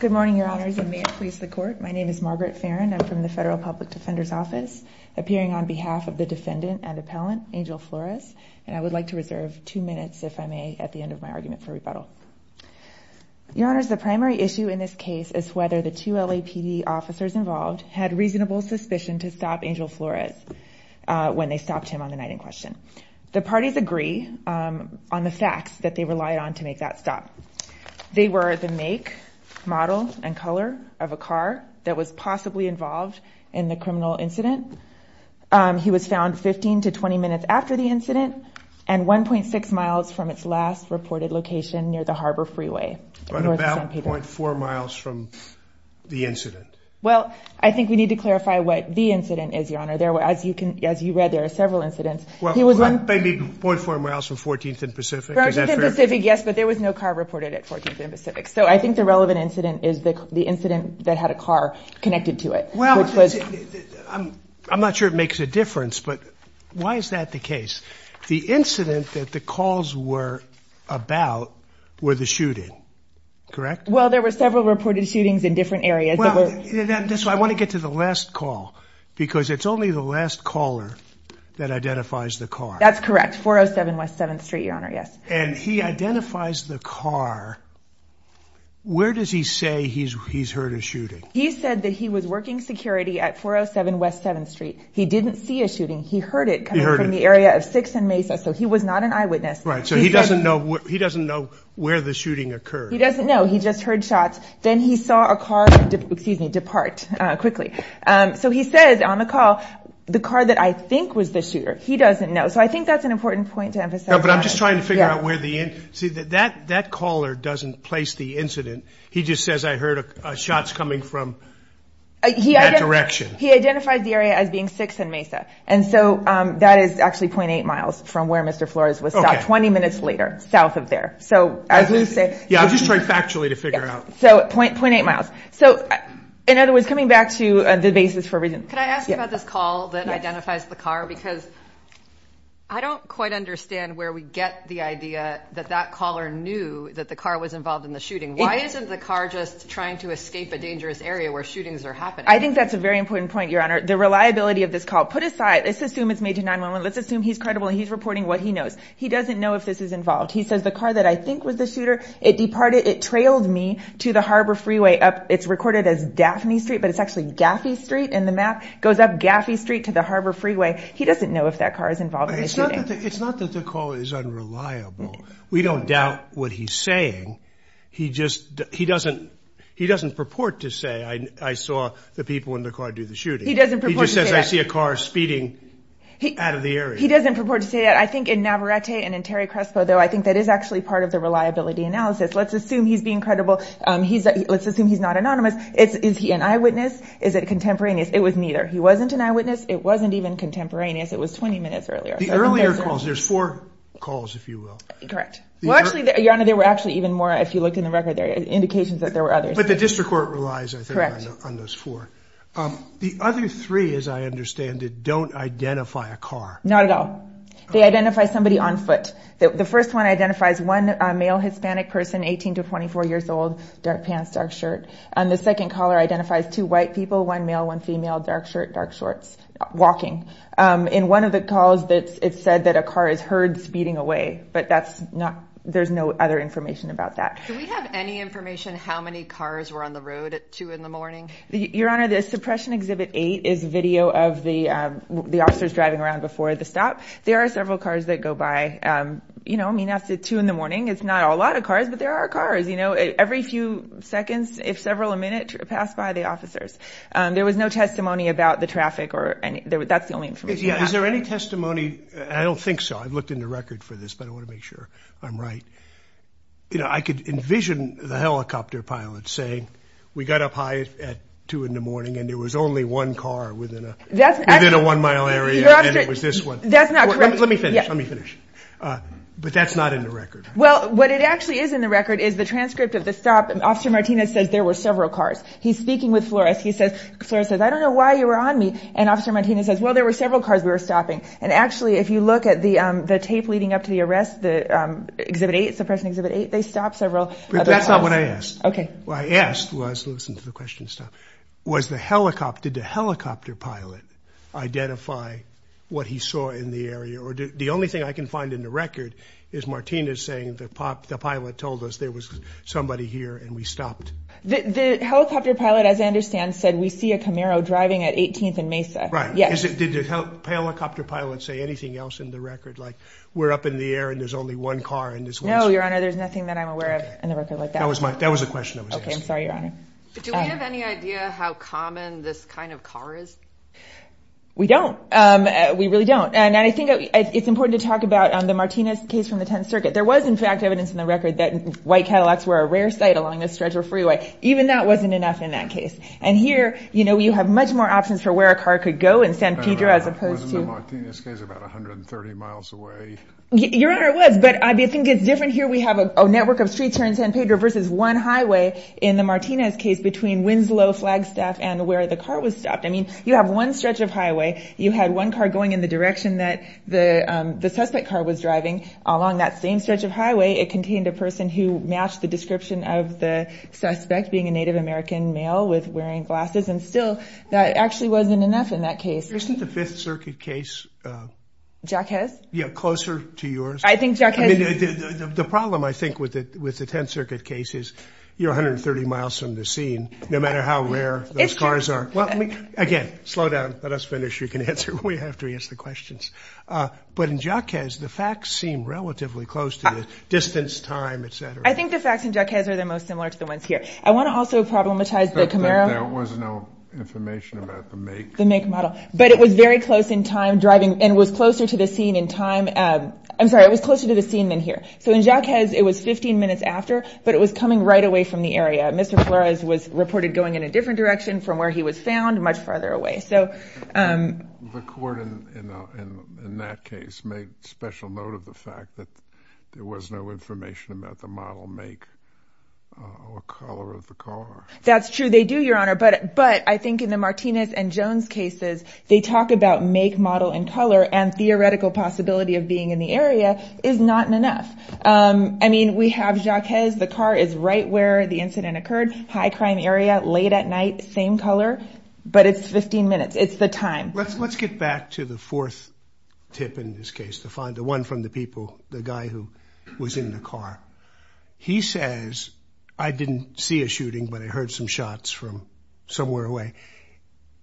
Good morning, Your Honors, and may it please the Court. My name is Margaret Farrin. I'm from the Federal Public Defender's Office, appearing on behalf of the defendant and appellant, Angel Flores, and I would like to reserve two minutes, if I may, at the end of my argument for rebuttal. Your Honors, the primary issue in this case is whether the two LAPD officers involved had reasonable suspicion to stop Angel Flores when they stopped him on the night in question. The parties agree on the facts that they relied on to make that stop. They were the make, model, and color of a car that was possibly involved in the criminal incident. He was found 15 to 20 minutes after the incident and 1.6 miles from its last reported location near the Harbor Freeway. But about .4 miles from the incident. Well, I think we need to clarify what the incident is, Your Honor. As you read, there are several incidents. Maybe .4 miles from 14th and Pacific? 14th and Pacific, yes, but there was no car reported at 14th and Pacific. So I think the relevant incident is the incident that had a car connected to it. Well, I'm not sure it makes a difference, but why is that the case? The incident that the calls were about were the shooting, correct? Well, there were several reported shootings in different areas. I want to get to the last call, because it's only the last caller that identifies the car. That's correct. 407 West 7th Street, Your Honor, yes. And he identifies the car. Where does he say he's heard a shooting? He said that he was working security at 407 West 7th Street. He didn't see a shooting. He heard it coming from the area of 6th and Mesa, so he was not an eyewitness. Right, so he doesn't know where the shooting occurred. He doesn't know. He just heard shots. Then he saw a car depart quickly. So he says on the call, the car that I think was the shooter, he doesn't know. So I think that's an important point to emphasize. No, but I'm just trying to figure out where the – see, that caller doesn't place the incident. He just says, I heard shots coming from that direction. He identifies the area as being 6th and Mesa, and so that is actually 0.8 miles from where Mr. Flores was shot 20 minutes later, south of there. Yeah, I'm just trying factually to figure out. So, 0.8 miles. So, in other words, coming back to the basis for – Could I ask you about this call that identifies the car? Because I don't quite understand where we get the idea that that caller knew that the car was involved in the shooting. Why isn't the car just trying to escape a dangerous area where shootings are happening? I think that's a very important point, Your Honor. The reliability of this call – put aside – let's assume it's made to 911. Let's assume he's credible and he's reporting what he knows. He doesn't know if this is involved. He says, the car that I think was the shooter, it departed – it trailed me to the Harbor Freeway up – it's recorded as Daphne Street, but it's actually Gaffey Street in the map. It goes up Gaffey Street to the Harbor Freeway. He doesn't know if that car is involved in the shooting. It's not that the caller is unreliable. We don't doubt what he's saying. He just – he doesn't purport to say, I saw the people in the car do the shooting. He doesn't purport to say that. He just says, I see a car speeding out of the area. If he doesn't purport to say that, I think in Navarrete and in Terry Crespo, though, I think that is actually part of the reliability analysis. Let's assume he's being credible. Let's assume he's not anonymous. Is he an eyewitness? Is it contemporaneous? It was neither. He wasn't an eyewitness. It wasn't even contemporaneous. It was 20 minutes earlier. The earlier calls – there's four calls, if you will. Correct. Well, actually, Your Honor, there were actually even more, if you looked in the record there, indications that there were others. But the district court relies, I think, on those four. The other three, as I understand it, don't identify a car. Not at all. They identify somebody on foot. The first one identifies one male Hispanic person, 18 to 24 years old, dark pants, dark shirt. And the second caller identifies two white people, one male, one female, dark shirt, dark shorts, walking. In one of the calls, it said that a car is heard speeding away. But that's not – there's no other information about that. Do we have any information how many cars were on the road at 2 in the morning? Your Honor, the suppression exhibit 8 is video of the officers driving around before the stop. There are several cars that go by. You know, I mean, after 2 in the morning, it's not a lot of cars, but there are cars. You know, every few seconds, if several a minute, pass by the officers. There was no testimony about the traffic or any – that's the only information we have. Is there any testimony – I don't think so. I've looked in the record for this, but I want to make sure I'm right. You know, I could envision the helicopter pilot saying we got up high at 2 in the morning and there was only one car within a one-mile area and it was this one. That's not correct. Let me finish. Let me finish. But that's not in the record. Well, what it actually is in the record is the transcript of the stop. Officer Martinez says there were several cars. He's speaking with Flores. He says – Flores says, I don't know why you were on me. And Officer Martinez says, well, there were several cars we were stopping. And actually, if you look at the tape leading up to the arrest, the Exhibit 8, Suppression Exhibit 8, they stopped several. But that's not what I asked. Okay. What I asked was – listen to the question stop – was the helicopter – did the helicopter pilot identify what he saw in the area? Or the only thing I can find in the record is Martinez saying the pilot told us there was somebody here and we stopped. The helicopter pilot, as I understand, said we see a Camaro driving at 18th and Mesa. Right. Yes. Did the helicopter pilot say anything else in the record, like we're up in the air and there's only one car? No, Your Honor. There's nothing that I'm aware of in the record like that. That was my – that was the question I was asking. Okay. I'm sorry, Your Honor. Do we have any idea how common this kind of car is? We don't. We really don't. And I think it's important to talk about the Martinez case from the 10th Circuit. There was, in fact, evidence in the record that white Cadillacs were a rare sight along this stretch of freeway. Even that wasn't enough in that case. And here, you know, you have much more options for where a car could go in San Pedro as opposed to – Wasn't the Martinez case about 130 miles away? Your Honor, it was. But I think it's different here. We have a network of streets here in San Pedro versus one highway in the Martinez case between Winslow, Flagstaff, and where the car was stopped. I mean, you have one stretch of highway. You had one car going in the direction that the suspect car was driving along that same stretch of highway. It contained a person who matched the description of the suspect being a Native American male with wearing glasses. And still, that actually wasn't enough in that case. Isn't the 5th Circuit case – Jaquez? Yeah, closer to yours. I think Jaquez – I mean, the problem, I think, with the 10th Circuit case is you're 130 miles from the scene, no matter how rare those cars are. It's true. Again, slow down. Let us finish. You can answer. We have to answer the questions. But in Jaquez, the facts seem relatively close to this. Distance, time, et cetera. I think the facts in Jaquez are the most similar to the ones here. I want to also problematize the Camaro. There was no information about the make. The make model. But it was very close in time, driving, and was closer to the scene in time. I'm sorry, it was closer to the scene than here. So in Jaquez, it was 15 minutes after, but it was coming right away from the area. Mr. Flores was reported going in a different direction from where he was found, much farther away. The court in that case made special note of the fact that there was no information about the model, make, or color of the car. That's true. They do, Your Honor. But I think in the Martinez and Jones cases, they talk about make, model, and color, and theoretical possibility of being in the area is not enough. I mean, we have Jaquez. The car is right where the incident occurred, high crime area, late at night, same color. But it's 15 minutes. It's the time. Let's get back to the fourth tip in this case, the one from the people, the guy who was in the car. He says, I didn't see a shooting, but I heard some shots from somewhere away.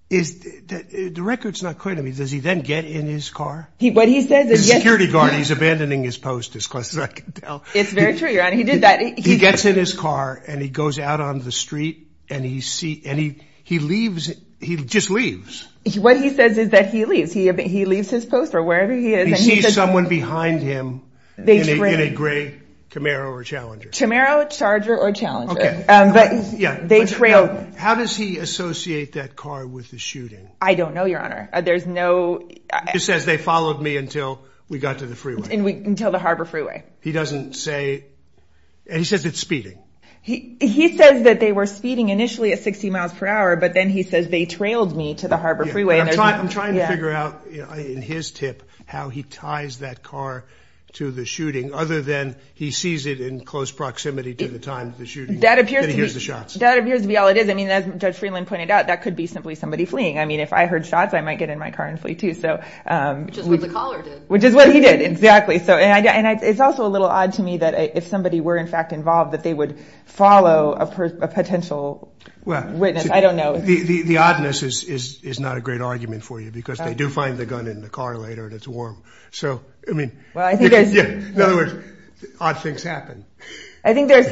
The record's not clear to me. Does he then get in his car? What he says is yes. He's a security guard. He's abandoning his post, as close as I can tell. It's very true, Your Honor. He did that. He gets in his car, and he goes out on the street, and he leaves. He just leaves. What he says is that he leaves. He leaves his post, or wherever he is. He sees someone behind him in a gray Camaro or Challenger. Camaro, Charger, or Challenger. But they trail. How does he associate that car with the shooting? I don't know, Your Honor. There's no— He says, they followed me until we got to the freeway. Until the Harbor Freeway. He doesn't say—he says it's speeding. He says that they were speeding initially at 60 miles per hour, but then he says, they trailed me to the Harbor Freeway. I'm trying to figure out, in his tip, how he ties that car to the shooting, other than he sees it in close proximity to the time of the shooting, then he hears the shots. That appears to be all it is. I mean, as Judge Freeland pointed out, that could be simply somebody fleeing. I mean, if I heard shots, I might get in my car and flee, too. Which is what the caller did. Which is what he did, exactly. And it's also a little odd to me that if somebody were, in fact, involved, that they would follow a potential witness. I don't know. The oddness is not a great argument for you, because they do find the gun in the car later, and it's warm. So, I mean— Well, I think there's— Yeah. In other words, odd things happen. I think there's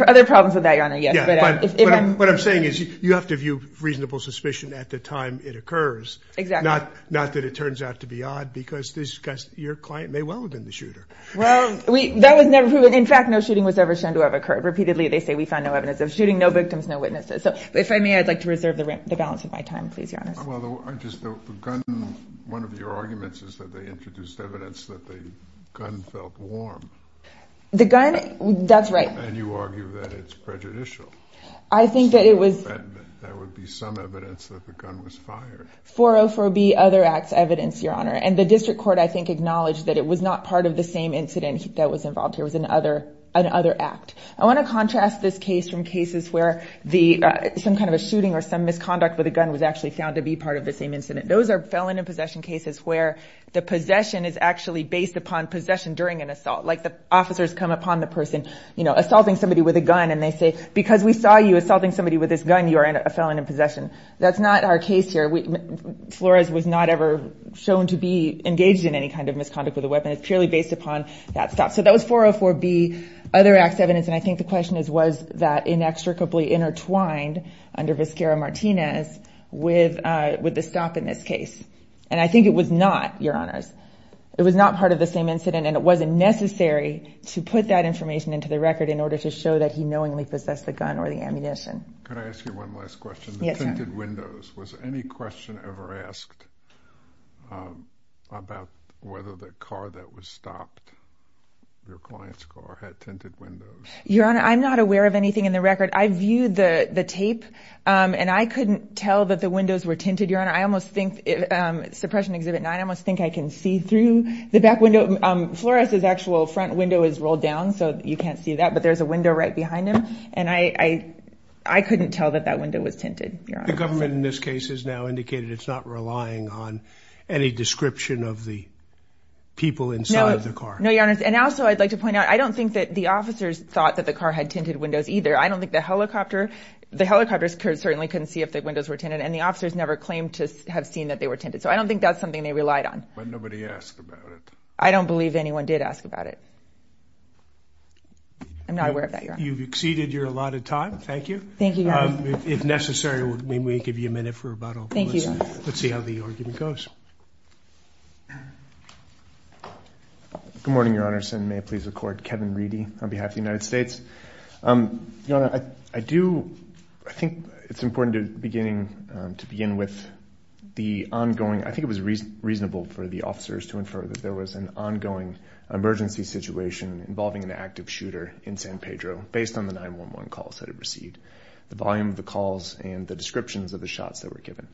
other problems with that, Your Honor, yes. Yeah, but what I'm saying is, you have to view reasonable suspicion at the time it occurs. Exactly. Not that it turns out to be odd, because your client may well have been the shooter. Well, that was never proven. In fact, no shooting was ever shown to have occurred. Repeatedly, they say we found no evidence of shooting, no victims, no witnesses. So, if I may, I'd like to reserve the balance of my time, please, Your Honor. Well, just the gun— One of your arguments is that they introduced evidence that the gun felt warm. The gun? That's right. And you argue that it's prejudicial. I think that it was— That would be some evidence that the gun was fired. 404B, other acts, evidence, Your Honor. And the district court, I think, acknowledged that it was not part of the same incident that was involved here. It was an other act. I want to contrast this case from cases where some kind of a shooting or some misconduct with a gun was actually found to be part of the same incident. Those are felon in possession cases where the possession is actually based upon possession during an assault, like the officers come upon the person assaulting somebody with a gun, and they say, because we saw you assaulting somebody with this gun, you are a felon in possession. That's not our case here. Flores was not ever shown to be engaged in any kind of misconduct with a weapon. It's purely based upon that stop. So that was 404B, other acts, evidence. And I think the question is, was that inextricably intertwined under Vizcarra-Martinez with the stop in this case? And I think it was not, Your Honors. It was not part of the same incident, and it wasn't necessary to put that information into the record in order to show that he knowingly possessed the gun or the ammunition. Could I ask you one last question? Yes, sir. Tinted windows. Was any question ever asked about whether the car that was stopped, your client's car, had tinted windows? Your Honor, I'm not aware of anything in the record. I viewed the tape, and I couldn't tell that the windows were tinted, Your Honor. Suppression Exhibit 9, I almost think I can see through the back window. Flores's actual front window is rolled down, so you can't see that, but there's a window right behind him, and I couldn't tell that that window was tinted, Your Honor. The government in this case has now indicated it's not relying on any description of the people inside the car. No, Your Honors, and also I'd like to point out, I don't think that the officers thought that the car had tinted windows either. I don't think the helicopter, the helicopters certainly couldn't see if the windows were tinted, and the officers never claimed to have seen that they were tinted, so I don't think that's something they relied on. But nobody asked about it. I'm not aware of that, Your Honor. You've exceeded your allotted time. Thank you. Thank you, Your Honor. If necessary, we may give you a minute for rebuttal. Thank you, Your Honor. Let's see how the argument goes. Good morning, Your Honors, and may I please record Kevin Reedy on behalf of the United States. Your Honor, I do, I think it's important to begin with the ongoing, I think it was reasonable for the officers to infer that there was an ongoing emergency situation involving an active shooter in San Pedro. Based on the 9-1-1 calls that it received, the volume of the calls and the descriptions of the shots that were given,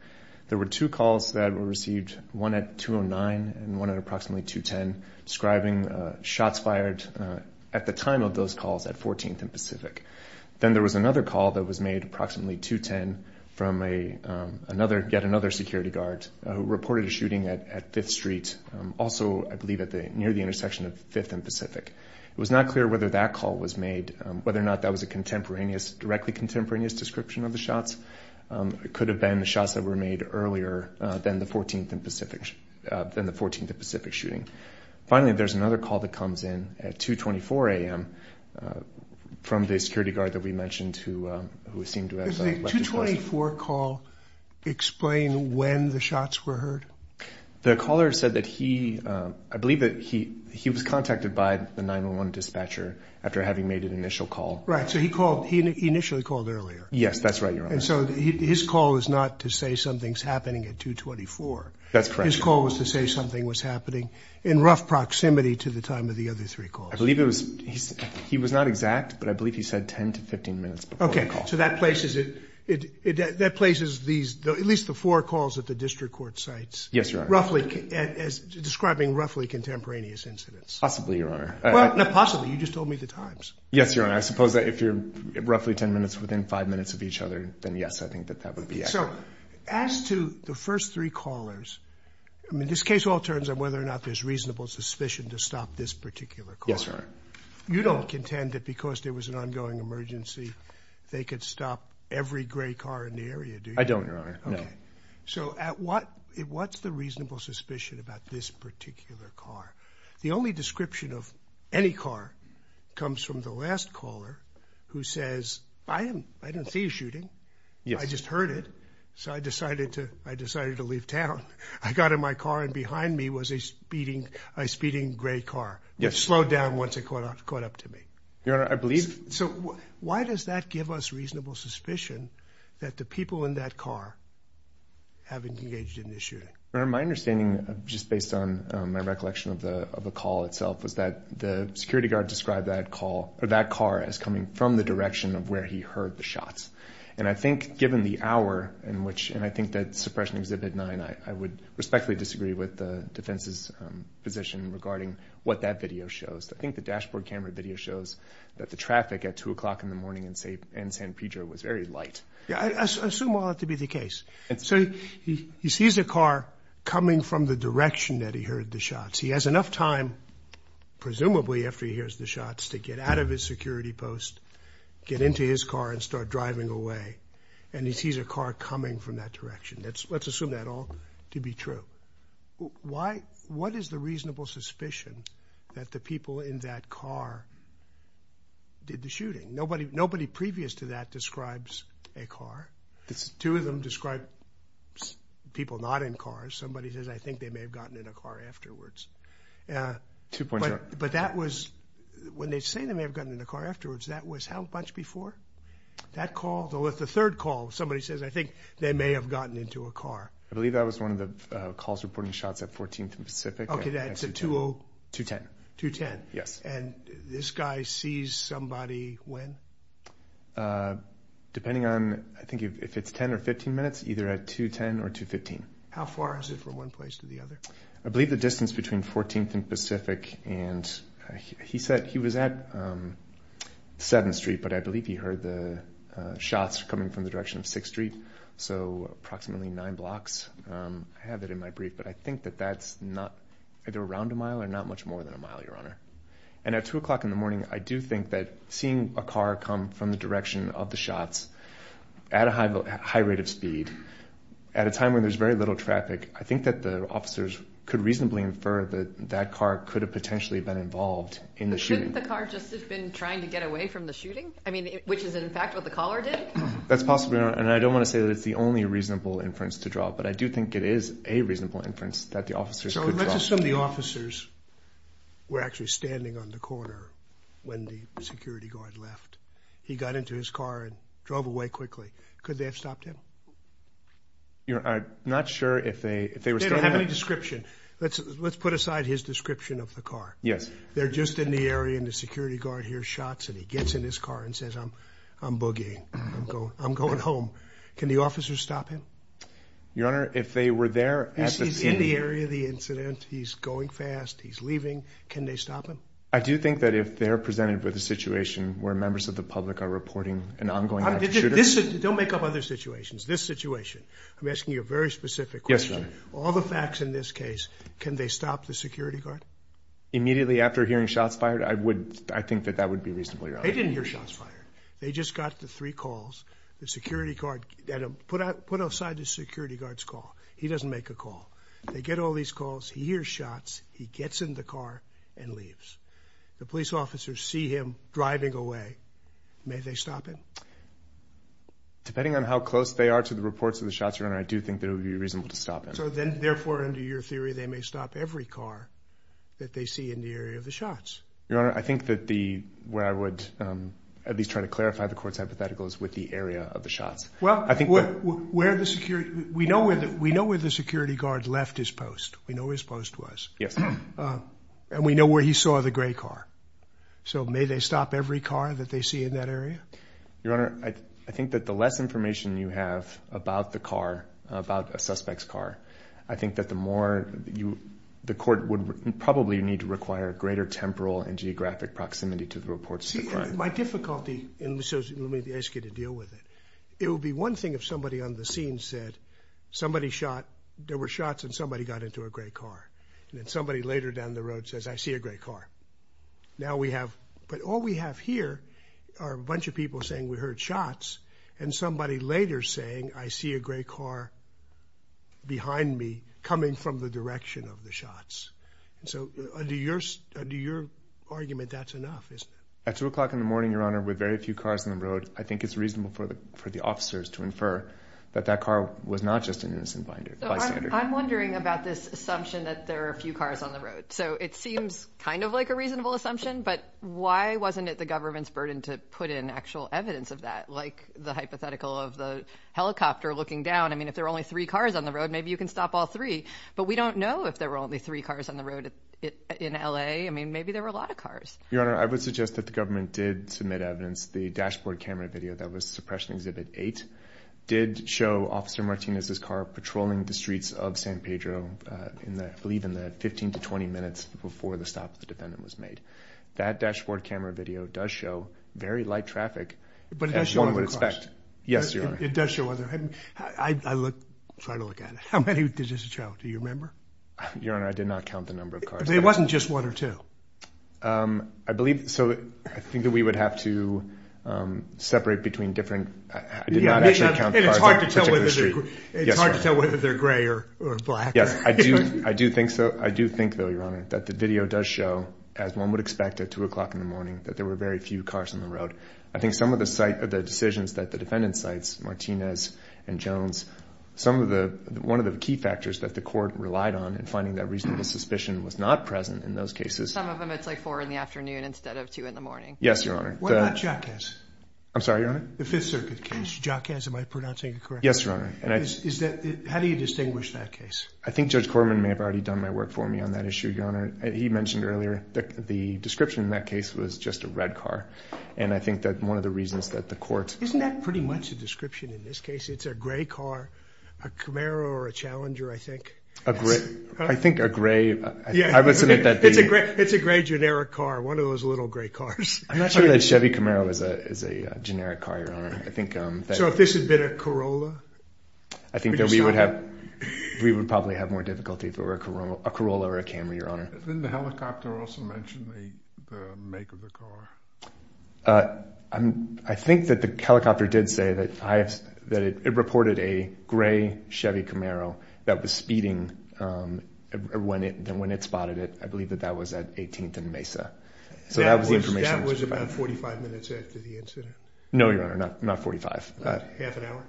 there were two calls that were received, one at 2-09 and one at approximately 2-10, describing shots fired at the time of those calls at 14th and Pacific. Then there was another call that was made approximately 2-10 from yet another security guard who reported a shooting at 5th Street, also I believe near the intersection of 5th and Pacific. It was not clear whether that call was made, whether or not that was a contemporaneous, directly contemporaneous description of the shots. It could have been the shots that were made earlier than the 14th and Pacific, than the 14th and Pacific shooting. Finally, there's another call that comes in at 2-24 a.m. from the security guard that we mentioned who seemed to have left his place. Does the 2-24 call explain when the shots were heard? The caller said that he, I believe that he was contacted by the 9-1-1 dispatcher after having made an initial call. Right, so he called, he initially called earlier. Yes, that's right, Your Honor. And so his call was not to say something's happening at 2-24. That's correct. His call was to say something was happening in rough proximity to the time of the other three calls. I believe it was, he was not exact, but I believe he said 10 to 15 minutes before the call. So that places these, at least the four calls that the district court cites, Yes, Your Honor. Roughly, describing roughly contemporaneous incidents. Possibly, Your Honor. Well, not possibly, you just told me the times. Yes, Your Honor, I suppose that if you're roughly 10 minutes within 5 minutes of each other, then yes, I think that that would be accurate. So, as to the first three callers, I mean, this case all turns on whether or not there's reasonable suspicion to stop this particular call. Yes, Your Honor. You don't contend that because there was an ongoing emergency, they could stop every gray car in the area, do you? I don't, Your Honor, no. Okay. So at what, what's the reasonable suspicion about this particular car? The only description of any car comes from the last caller who says, I didn't see a shooting, I just heard it, so I decided to leave town. I got in my car and behind me was a speeding gray car. Yes. It slowed down once it caught up to me. Your Honor, I believe. So why does that give us reasonable suspicion that the people in that car haven't engaged in the shooting? Your Honor, my understanding, just based on my recollection of the call itself, was that the security guard described that call, or that car as coming from the direction of where he heard the shots. And I think given the hour in which, and I think that Suppression Exhibit 9, I would respectfully disagree with the defense's position regarding what that video shows. I think the dashboard camera video shows that the traffic at 2 o'clock in the morning in San Pedro was very light. I assume all that to be the case. So he sees a car coming from the direction that he heard the shots. He has enough time, presumably after he hears the shots, to get out of his security post, get into his car, and start driving away. And he sees a car coming from that direction. Let's assume that all to be true. What is the reasonable suspicion that the people in that car did the shooting? Nobody previous to that describes a car. Two of them describe people not in cars. Somebody says, I think they may have gotten in a car afterwards. But that was, when they say they may have gotten in a car afterwards, that was how much before? That call, the third call, somebody says, I think they may have gotten into a car. I believe that was one of the calls reporting shots at 14th and Pacific. Okay, that's at 210. 210. Yes. And this guy sees somebody when? Depending on, I think if it's 10 or 15 minutes, either at 210 or 215. How far is it from one place to the other? I believe the distance between 14th and Pacific. And he said he was at 7th Street, but I believe he heard the shots coming from the direction of 6th Street. So approximately nine blocks. I have it in my brief, but I think that that's not, either around a mile or not much more than a mile, Your Honor. And at 2 o'clock in the morning, I do think that seeing a car come from the direction of the shots at a high rate of speed at a time when there's very little traffic, I think that the officers could reasonably infer that that car could have potentially been involved in the shooting. Couldn't the car just have been trying to get away from the shooting? I mean, which is, in fact, what the caller did? That's possible, Your Honor, and I don't want to say that it's the only reasonable inference to draw, but I do think it is a reasonable inference that the officers could draw. So let's assume the officers were actually standing on the corner when the security guard left. He got into his car and drove away quickly. Could they have stopped him? I'm not sure if they were still there. They don't have any description. Let's put aside his description of the car. Yes. They're just in the area and the security guard hears shots and he gets in his car and says, I'm boogieing, I'm going home. Can the officers stop him? Your Honor, if they were there at the scene. He's in the area of the incident, he's going fast, he's leaving. Can they stop him? I do think that if they're presented with a situation where members of the public are reporting an ongoing shooting. This situation, I'm asking you a very specific question. Yes, Your Honor. All the facts in this case, can they stop the security guard? Immediately after hearing shots fired, I think that that would be reasonable, Your Honor. They didn't hear shots fired. They just got the three calls. The security guard, put aside the security guard's call. He doesn't make a call. They get all these calls, he hears shots, he gets in the car and leaves. The police officers see him driving away. May they stop him? Depending on how close they are to the reports of the shots, Your Honor, I do think that it would be reasonable to stop him. Therefore, under your theory, they may stop every car that they see in the area of the shots. Your Honor, I think that where I would at least try to clarify the court's hypothetical is with the area of the shots. Well, we know where the security guard left his post. We know where his post was. Yes. And we know where he saw the gray car. So may they stop every car that they see in that area? Your Honor, I think that the less information you have about the car, about a suspect's car, I think that the more you, the court would probably need to require a greater temporal and geographic proximity to the reports of the crime. See, that's my difficulty in this, so let me ask you to deal with it. It would be one thing if somebody on the scene said somebody shot, there were shots and somebody got into a gray car. And then somebody later down the road says, I see a gray car. Now we have, but all we have here are a bunch of people saying we heard shots and somebody later saying, I see a gray car behind me coming from the direction of the shots. So under your argument, that's enough. At 2 o'clock in the morning, Your Honor, with very few cars on the road, I think it's reasonable for the officers to infer that that car was not just an innocent bystander. I'm wondering about this assumption that there are few cars on the road. So it seems kind of like a reasonable assumption, but why wasn't it the government's burden to put in actual evidence of that? Like the hypothetical of the helicopter looking down. I mean, if there are only three cars on the road, maybe you can stop all three. But we don't know if there were only three cars on the road in L.A. I mean, maybe there were a lot of cars. Your Honor, I would suggest that the government did submit evidence. The dashboard camera video that was suppression exhibit 8 did show Officer Martinez's car patrolling the streets of San Pedro I believe in the 15 to 20 minutes before the stop of the defendant was made. That dashboard camera video does show very light traffic as one would expect. But it does show other cars. Yes, Your Honor. It does show other. I try to look at it. How many did this show? Do you remember? Your Honor, I did not count the number of cars. It wasn't just one or two. I believe so. I think that we would have to separate between different. I did not actually count the cars. And it's hard to tell whether they're gray or black. Yes, I do. I do think so. I do think, though, Your Honor, that the video does show, as one would expect at 2 o'clock in the morning, that there were very few cars on the road. I think some of the decisions that the defendant cites, Martinez and Jones, one of the key factors that the court relied on in finding that reasonable suspicion was not present in those cases. Some of them it's like 4 in the afternoon instead of 2 in the morning. Yes, Your Honor. What about Jacquez? I'm sorry, Your Honor? The Fifth Circuit case, Jacquez. Am I pronouncing it correctly? Yes, Your Honor. How do you distinguish that case? I think Judge Corman may have already done my work for me on that issue, Your Honor. He mentioned earlier that the description in that case was just a red car. And I think that one of the reasons that the court— Isn't that pretty much a description in this case? It's a gray car, a Camaro or a Challenger, I think. I think a gray—I would submit that the— It's a gray generic car, one of those little gray cars. I'm not sure that a Chevy Camaro is a generic car, Your Honor. So if this had been a Corolla? I think that we would have—we would probably have more difficulty if it were a Corolla or a Camry, Your Honor. Didn't the helicopter also mention the make of the car? I think that the helicopter did say that it reported a gray Chevy Camaro that was speeding when it spotted it. I believe that that was at 18th and Mesa. So that was the information that was provided. That was about 45 minutes after the incident? No, Your Honor. Not 45. Half an hour?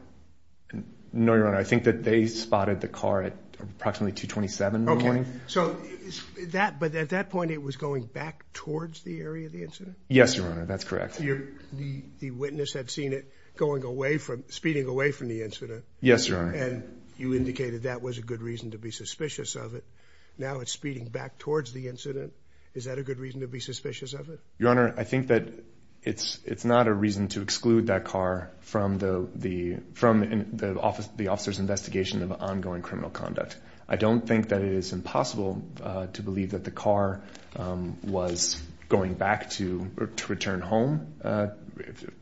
No, Your Honor. I think that they spotted the car at approximately 227 in the morning. Okay. So that—but at that point, it was going back towards the area of the incident? Yes, Your Honor. That's correct. The witness had seen it going away from—speeding away from the incident? Yes, Your Honor. And you indicated that was a good reason to be suspicious of it. Now it's speeding back towards the incident. Is that a good reason to be suspicious of it? Your Honor, I think that it's not a reason to exclude that car from the officer's investigation of ongoing criminal conduct. I don't think that it is impossible to believe that the car was going back to return home.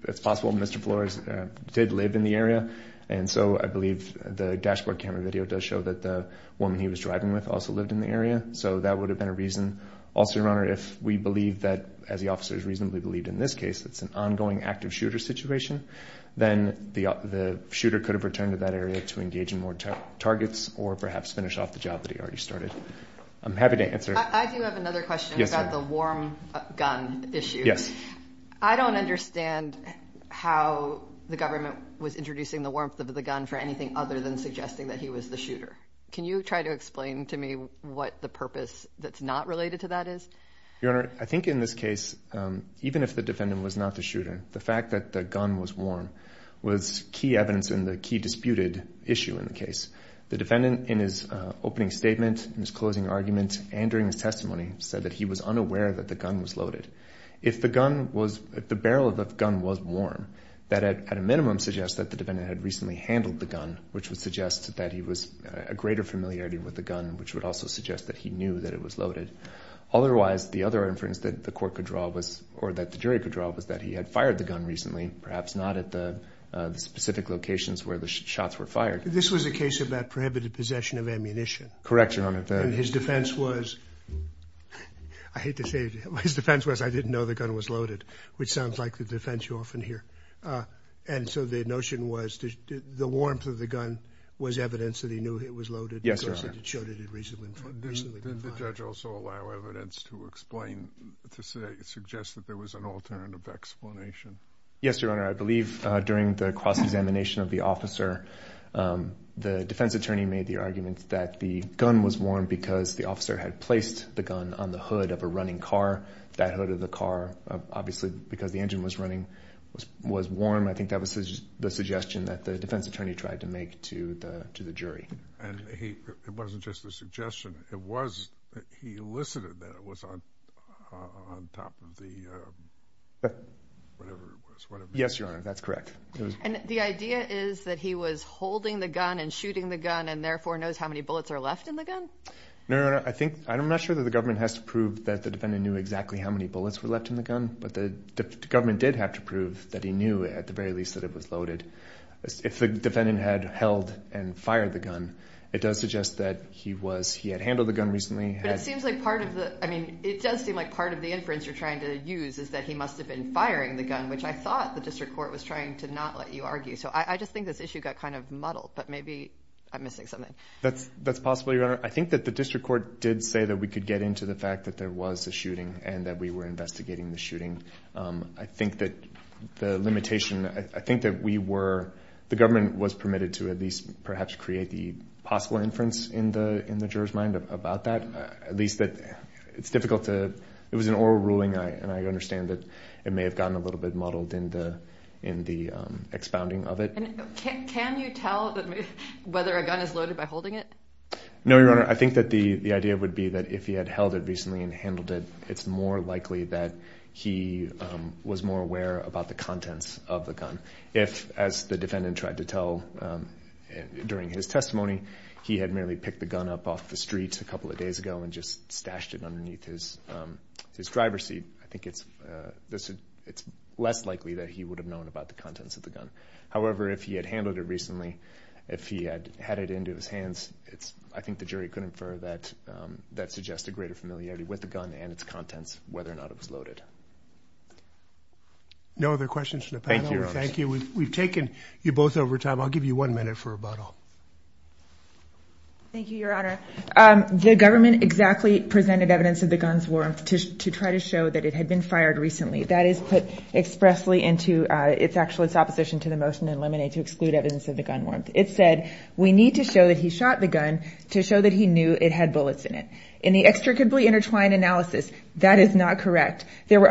It's possible Mr. Flores did live in the area. And so I believe the dashboard camera video does show that the woman he was driving with also lived in the area. So that would have been a reason. Also, Your Honor, if we believe that, as the officers reasonably believed in this case, it's an ongoing active shooter situation, then the shooter could have returned to that area to engage in more targets or perhaps finish off the job that he already started. I'm happy to answer— I do have another question about the warm gun issue. Yes. I don't understand how the government was introducing the warmth of the gun for anything other than suggesting that he was the shooter. Can you try to explain to me what the purpose that's not related to that is? Your Honor, I think in this case, even if the defendant was not the shooter, the fact that the gun was warm was key evidence in the key disputed issue in the case. The defendant, in his opening statement, in his closing argument, and during his testimony, said that he was unaware that the gun was loaded. If the gun was—if the barrel of the gun was warm, that at a minimum suggests that the defendant had recently handled the gun, which would suggest that he was a greater familiarity with the gun, which would also suggest that he knew that it was loaded. Otherwise, the other inference that the court could draw was—or that the jury could draw was that he had fired the gun recently, perhaps not at the specific locations where the shots were fired. This was a case about prohibited possession of ammunition. Correct, Your Honor. And his defense was—I hate to say it, but his defense was, I didn't know the gun was loaded, which sounds like the defense you often hear. And so the notion was the warmth of the gun was evidence that he knew it was loaded. Yes, Your Honor. Of course, he showed it had recently been fired. Did the judge also allow evidence to explain—to suggest that there was an alternative explanation? Yes, Your Honor. I believe during the cross-examination of the officer, the defense attorney made the argument that the gun was warm because the officer had placed the gun on the hood of a running car. That hood of the car, obviously, because the engine was running, was warm. I think that was the suggestion that the defense attorney tried to make to the jury. And he—it wasn't just a suggestion. It was—he elicited that it was on top of the—whatever it was. Yes, Your Honor. That's correct. And the idea is that he was holding the gun and shooting the gun and therefore knows how many bullets are left in the gun? No, Your Honor. I think—I'm not sure that the government has to prove that the defendant knew exactly how many bullets were left in the gun, but the government did have to prove that he knew at the very least that it was loaded. If the defendant had held and fired the gun, it does suggest that he was—he had handled the gun recently. But it seems like part of the—I mean, it does seem like part of the inference you're trying to use is that he must have been firing the gun, which I thought the district court was trying to not let you argue. So I just think this issue got kind of muddled, but maybe I'm missing something. That's possible, Your Honor. I think that the district court did say that we could get into the fact that there was a shooting and that we were investigating the shooting. I think that the limitation—I think that we were—the government was permitted to at least perhaps create the possible inference in the juror's mind about that. At least that it's difficult to—it was an oral ruling, and I understand that it may have gotten a little bit muddled in the expounding of it. Can you tell whether a gun is loaded by holding it? No, Your Honor. I think that the idea would be that if he had held it recently and handled it, it's more likely that he was more aware about the contents of the gun. If, as the defendant tried to tell during his testimony, he had merely picked the gun up off the street a couple of days ago and just stashed it underneath his driver's seat, I think it's less likely that he would have known about the contents of the gun. However, if he had handled it recently, if he had had it into his hands, I think the jury could infer that that suggests a greater familiarity with the gun and its contents, whether or not it was loaded. No other questions from the panel? Thank you, Your Honor. Thank you. We've taken you both over time. I'll give you one minute for rebuttal. Thank you, Your Honor. The government exactly presented evidence of the gun's warmth to try to show that it had been fired recently. That is put expressly into its opposition to the motion in Lemonade to exclude evidence of the gun warmth. It said we need to show that he shot the gun to show that he knew it had bullets in it. In the extricably intertwined analysis, that is not correct. there were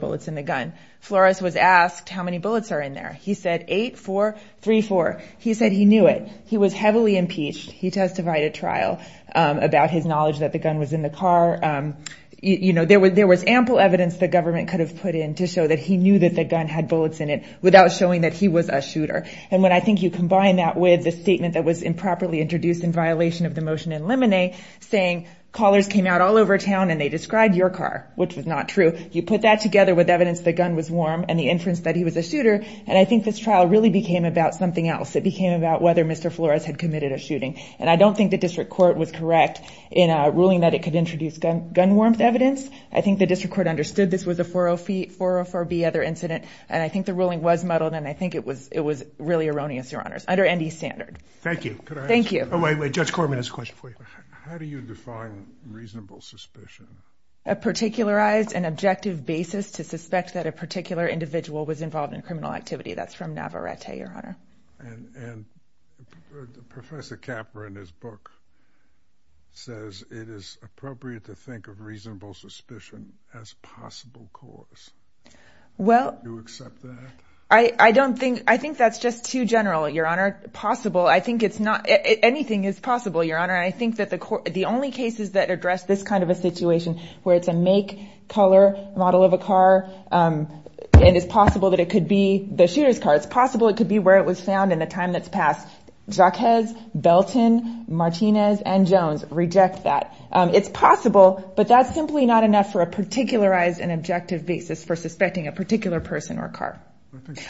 bullets in the gun. Flores was asked how many bullets are in there. He said eight, four, three, four. He said he knew it. He was heavily impeached. He testified at trial about his knowledge that the gun was in the car. You know, there was ample evidence the government could have put in to show that he knew that the gun had bullets in it without showing that he was a shooter. And when I think you combine that with the statement that was improperly introduced in violation of the motion in Lemonade, saying callers came out all over town and they described your car, which was not true, you put that together with evidence that the gun was warm and the inference that he was a shooter, and I think this trial really became about something else. It became about whether Mr. Flores had committed a shooting. And I don't think the district court was correct in ruling that it could introduce gun warmth evidence. I think the district court understood this was a 404B other incident, and I think the ruling was muddled, and I think it was really erroneous, Your Honors, under N.D. standard. Thank you. Oh, wait, wait. Judge Korman has a question for you. How do you define reasonable suspicion? A particularized and objective basis to suspect that a particular individual was involved in criminal activity. That's from Navarrete, Your Honor. And Professor Capra, in his book, says it is appropriate to think of reasonable suspicion as possible cause. Do you accept that? I think that's just too general, Your Honor. Anything is possible, Your Honor, and I think that the only cases that address this kind of a situation where it's a make, color, model of a car, and it's possible that it could be the shooter's car, it's possible it could be where it was found in the time that's passed. Jacquez, Belton, Martinez, and Jones reject that. It's possible, but that's simply not enough for a particularized and objective basis for suspecting a particular person or car.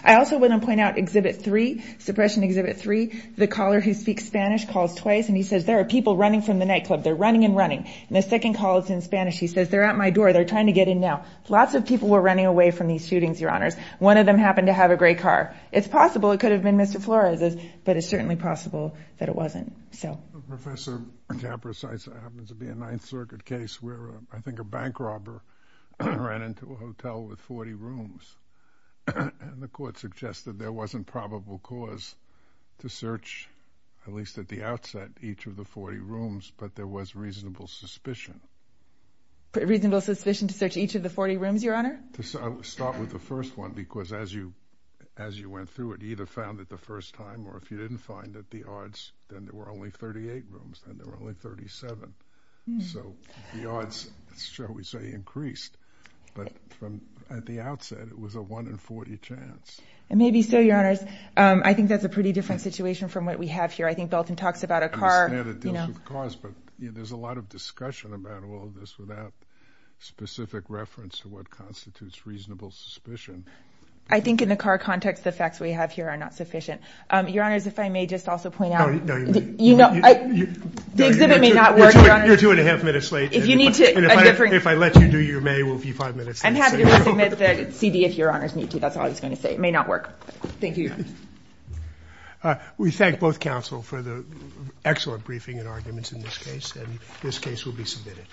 I also want to point out Exhibit 3, Suppression Exhibit 3. The caller who speaks Spanish calls twice, and he says, there are people running from the nightclub. They're running and running. And the second call is in Spanish. He says, they're at my door. They're trying to get in now. Lots of people were running away from these shootings, Your Honors. One of them happened to have a gray car. It's possible it could have been Mr. Flores's, but it's certainly possible that it wasn't. Professor Capra, it happens to be a Ninth Circuit case where I think a bank robber ran into a hotel with 40 rooms, and the court suggested there wasn't probable cause to search, at least at the outset, each of the 40 rooms, but there was reasonable suspicion. Reasonable suspicion to search each of the 40 rooms, Your Honor? To start with the first one, because as you went through it, you either found it the first time, or if you didn't find it, the odds, then there were only 38 rooms. Then there were only 37. So the odds, shall we say, increased. But at the outset, it was a 1 in 40 chance. Maybe so, Your Honors. I think that's a pretty different situation from what we have here. I think Belton talks about a car. I understand it deals with cars, but there's a lot of discussion about all of this without specific reference to what constitutes reasonable suspicion. I think in the car context, the facts we have here are not sufficient. Your Honors, if I may just also point out. No, you may. The exhibit may not work, Your Honors. You're 2 1⁄2 minutes late. If I let you do your May, we'll be 5 minutes late. I'm happy to submit the CD if Your Honors need to. That's all I was going to say. It may not work. Thank you, Your Honors. We thank both counsel for the excellent briefing and arguments in this case. This case will be submitted.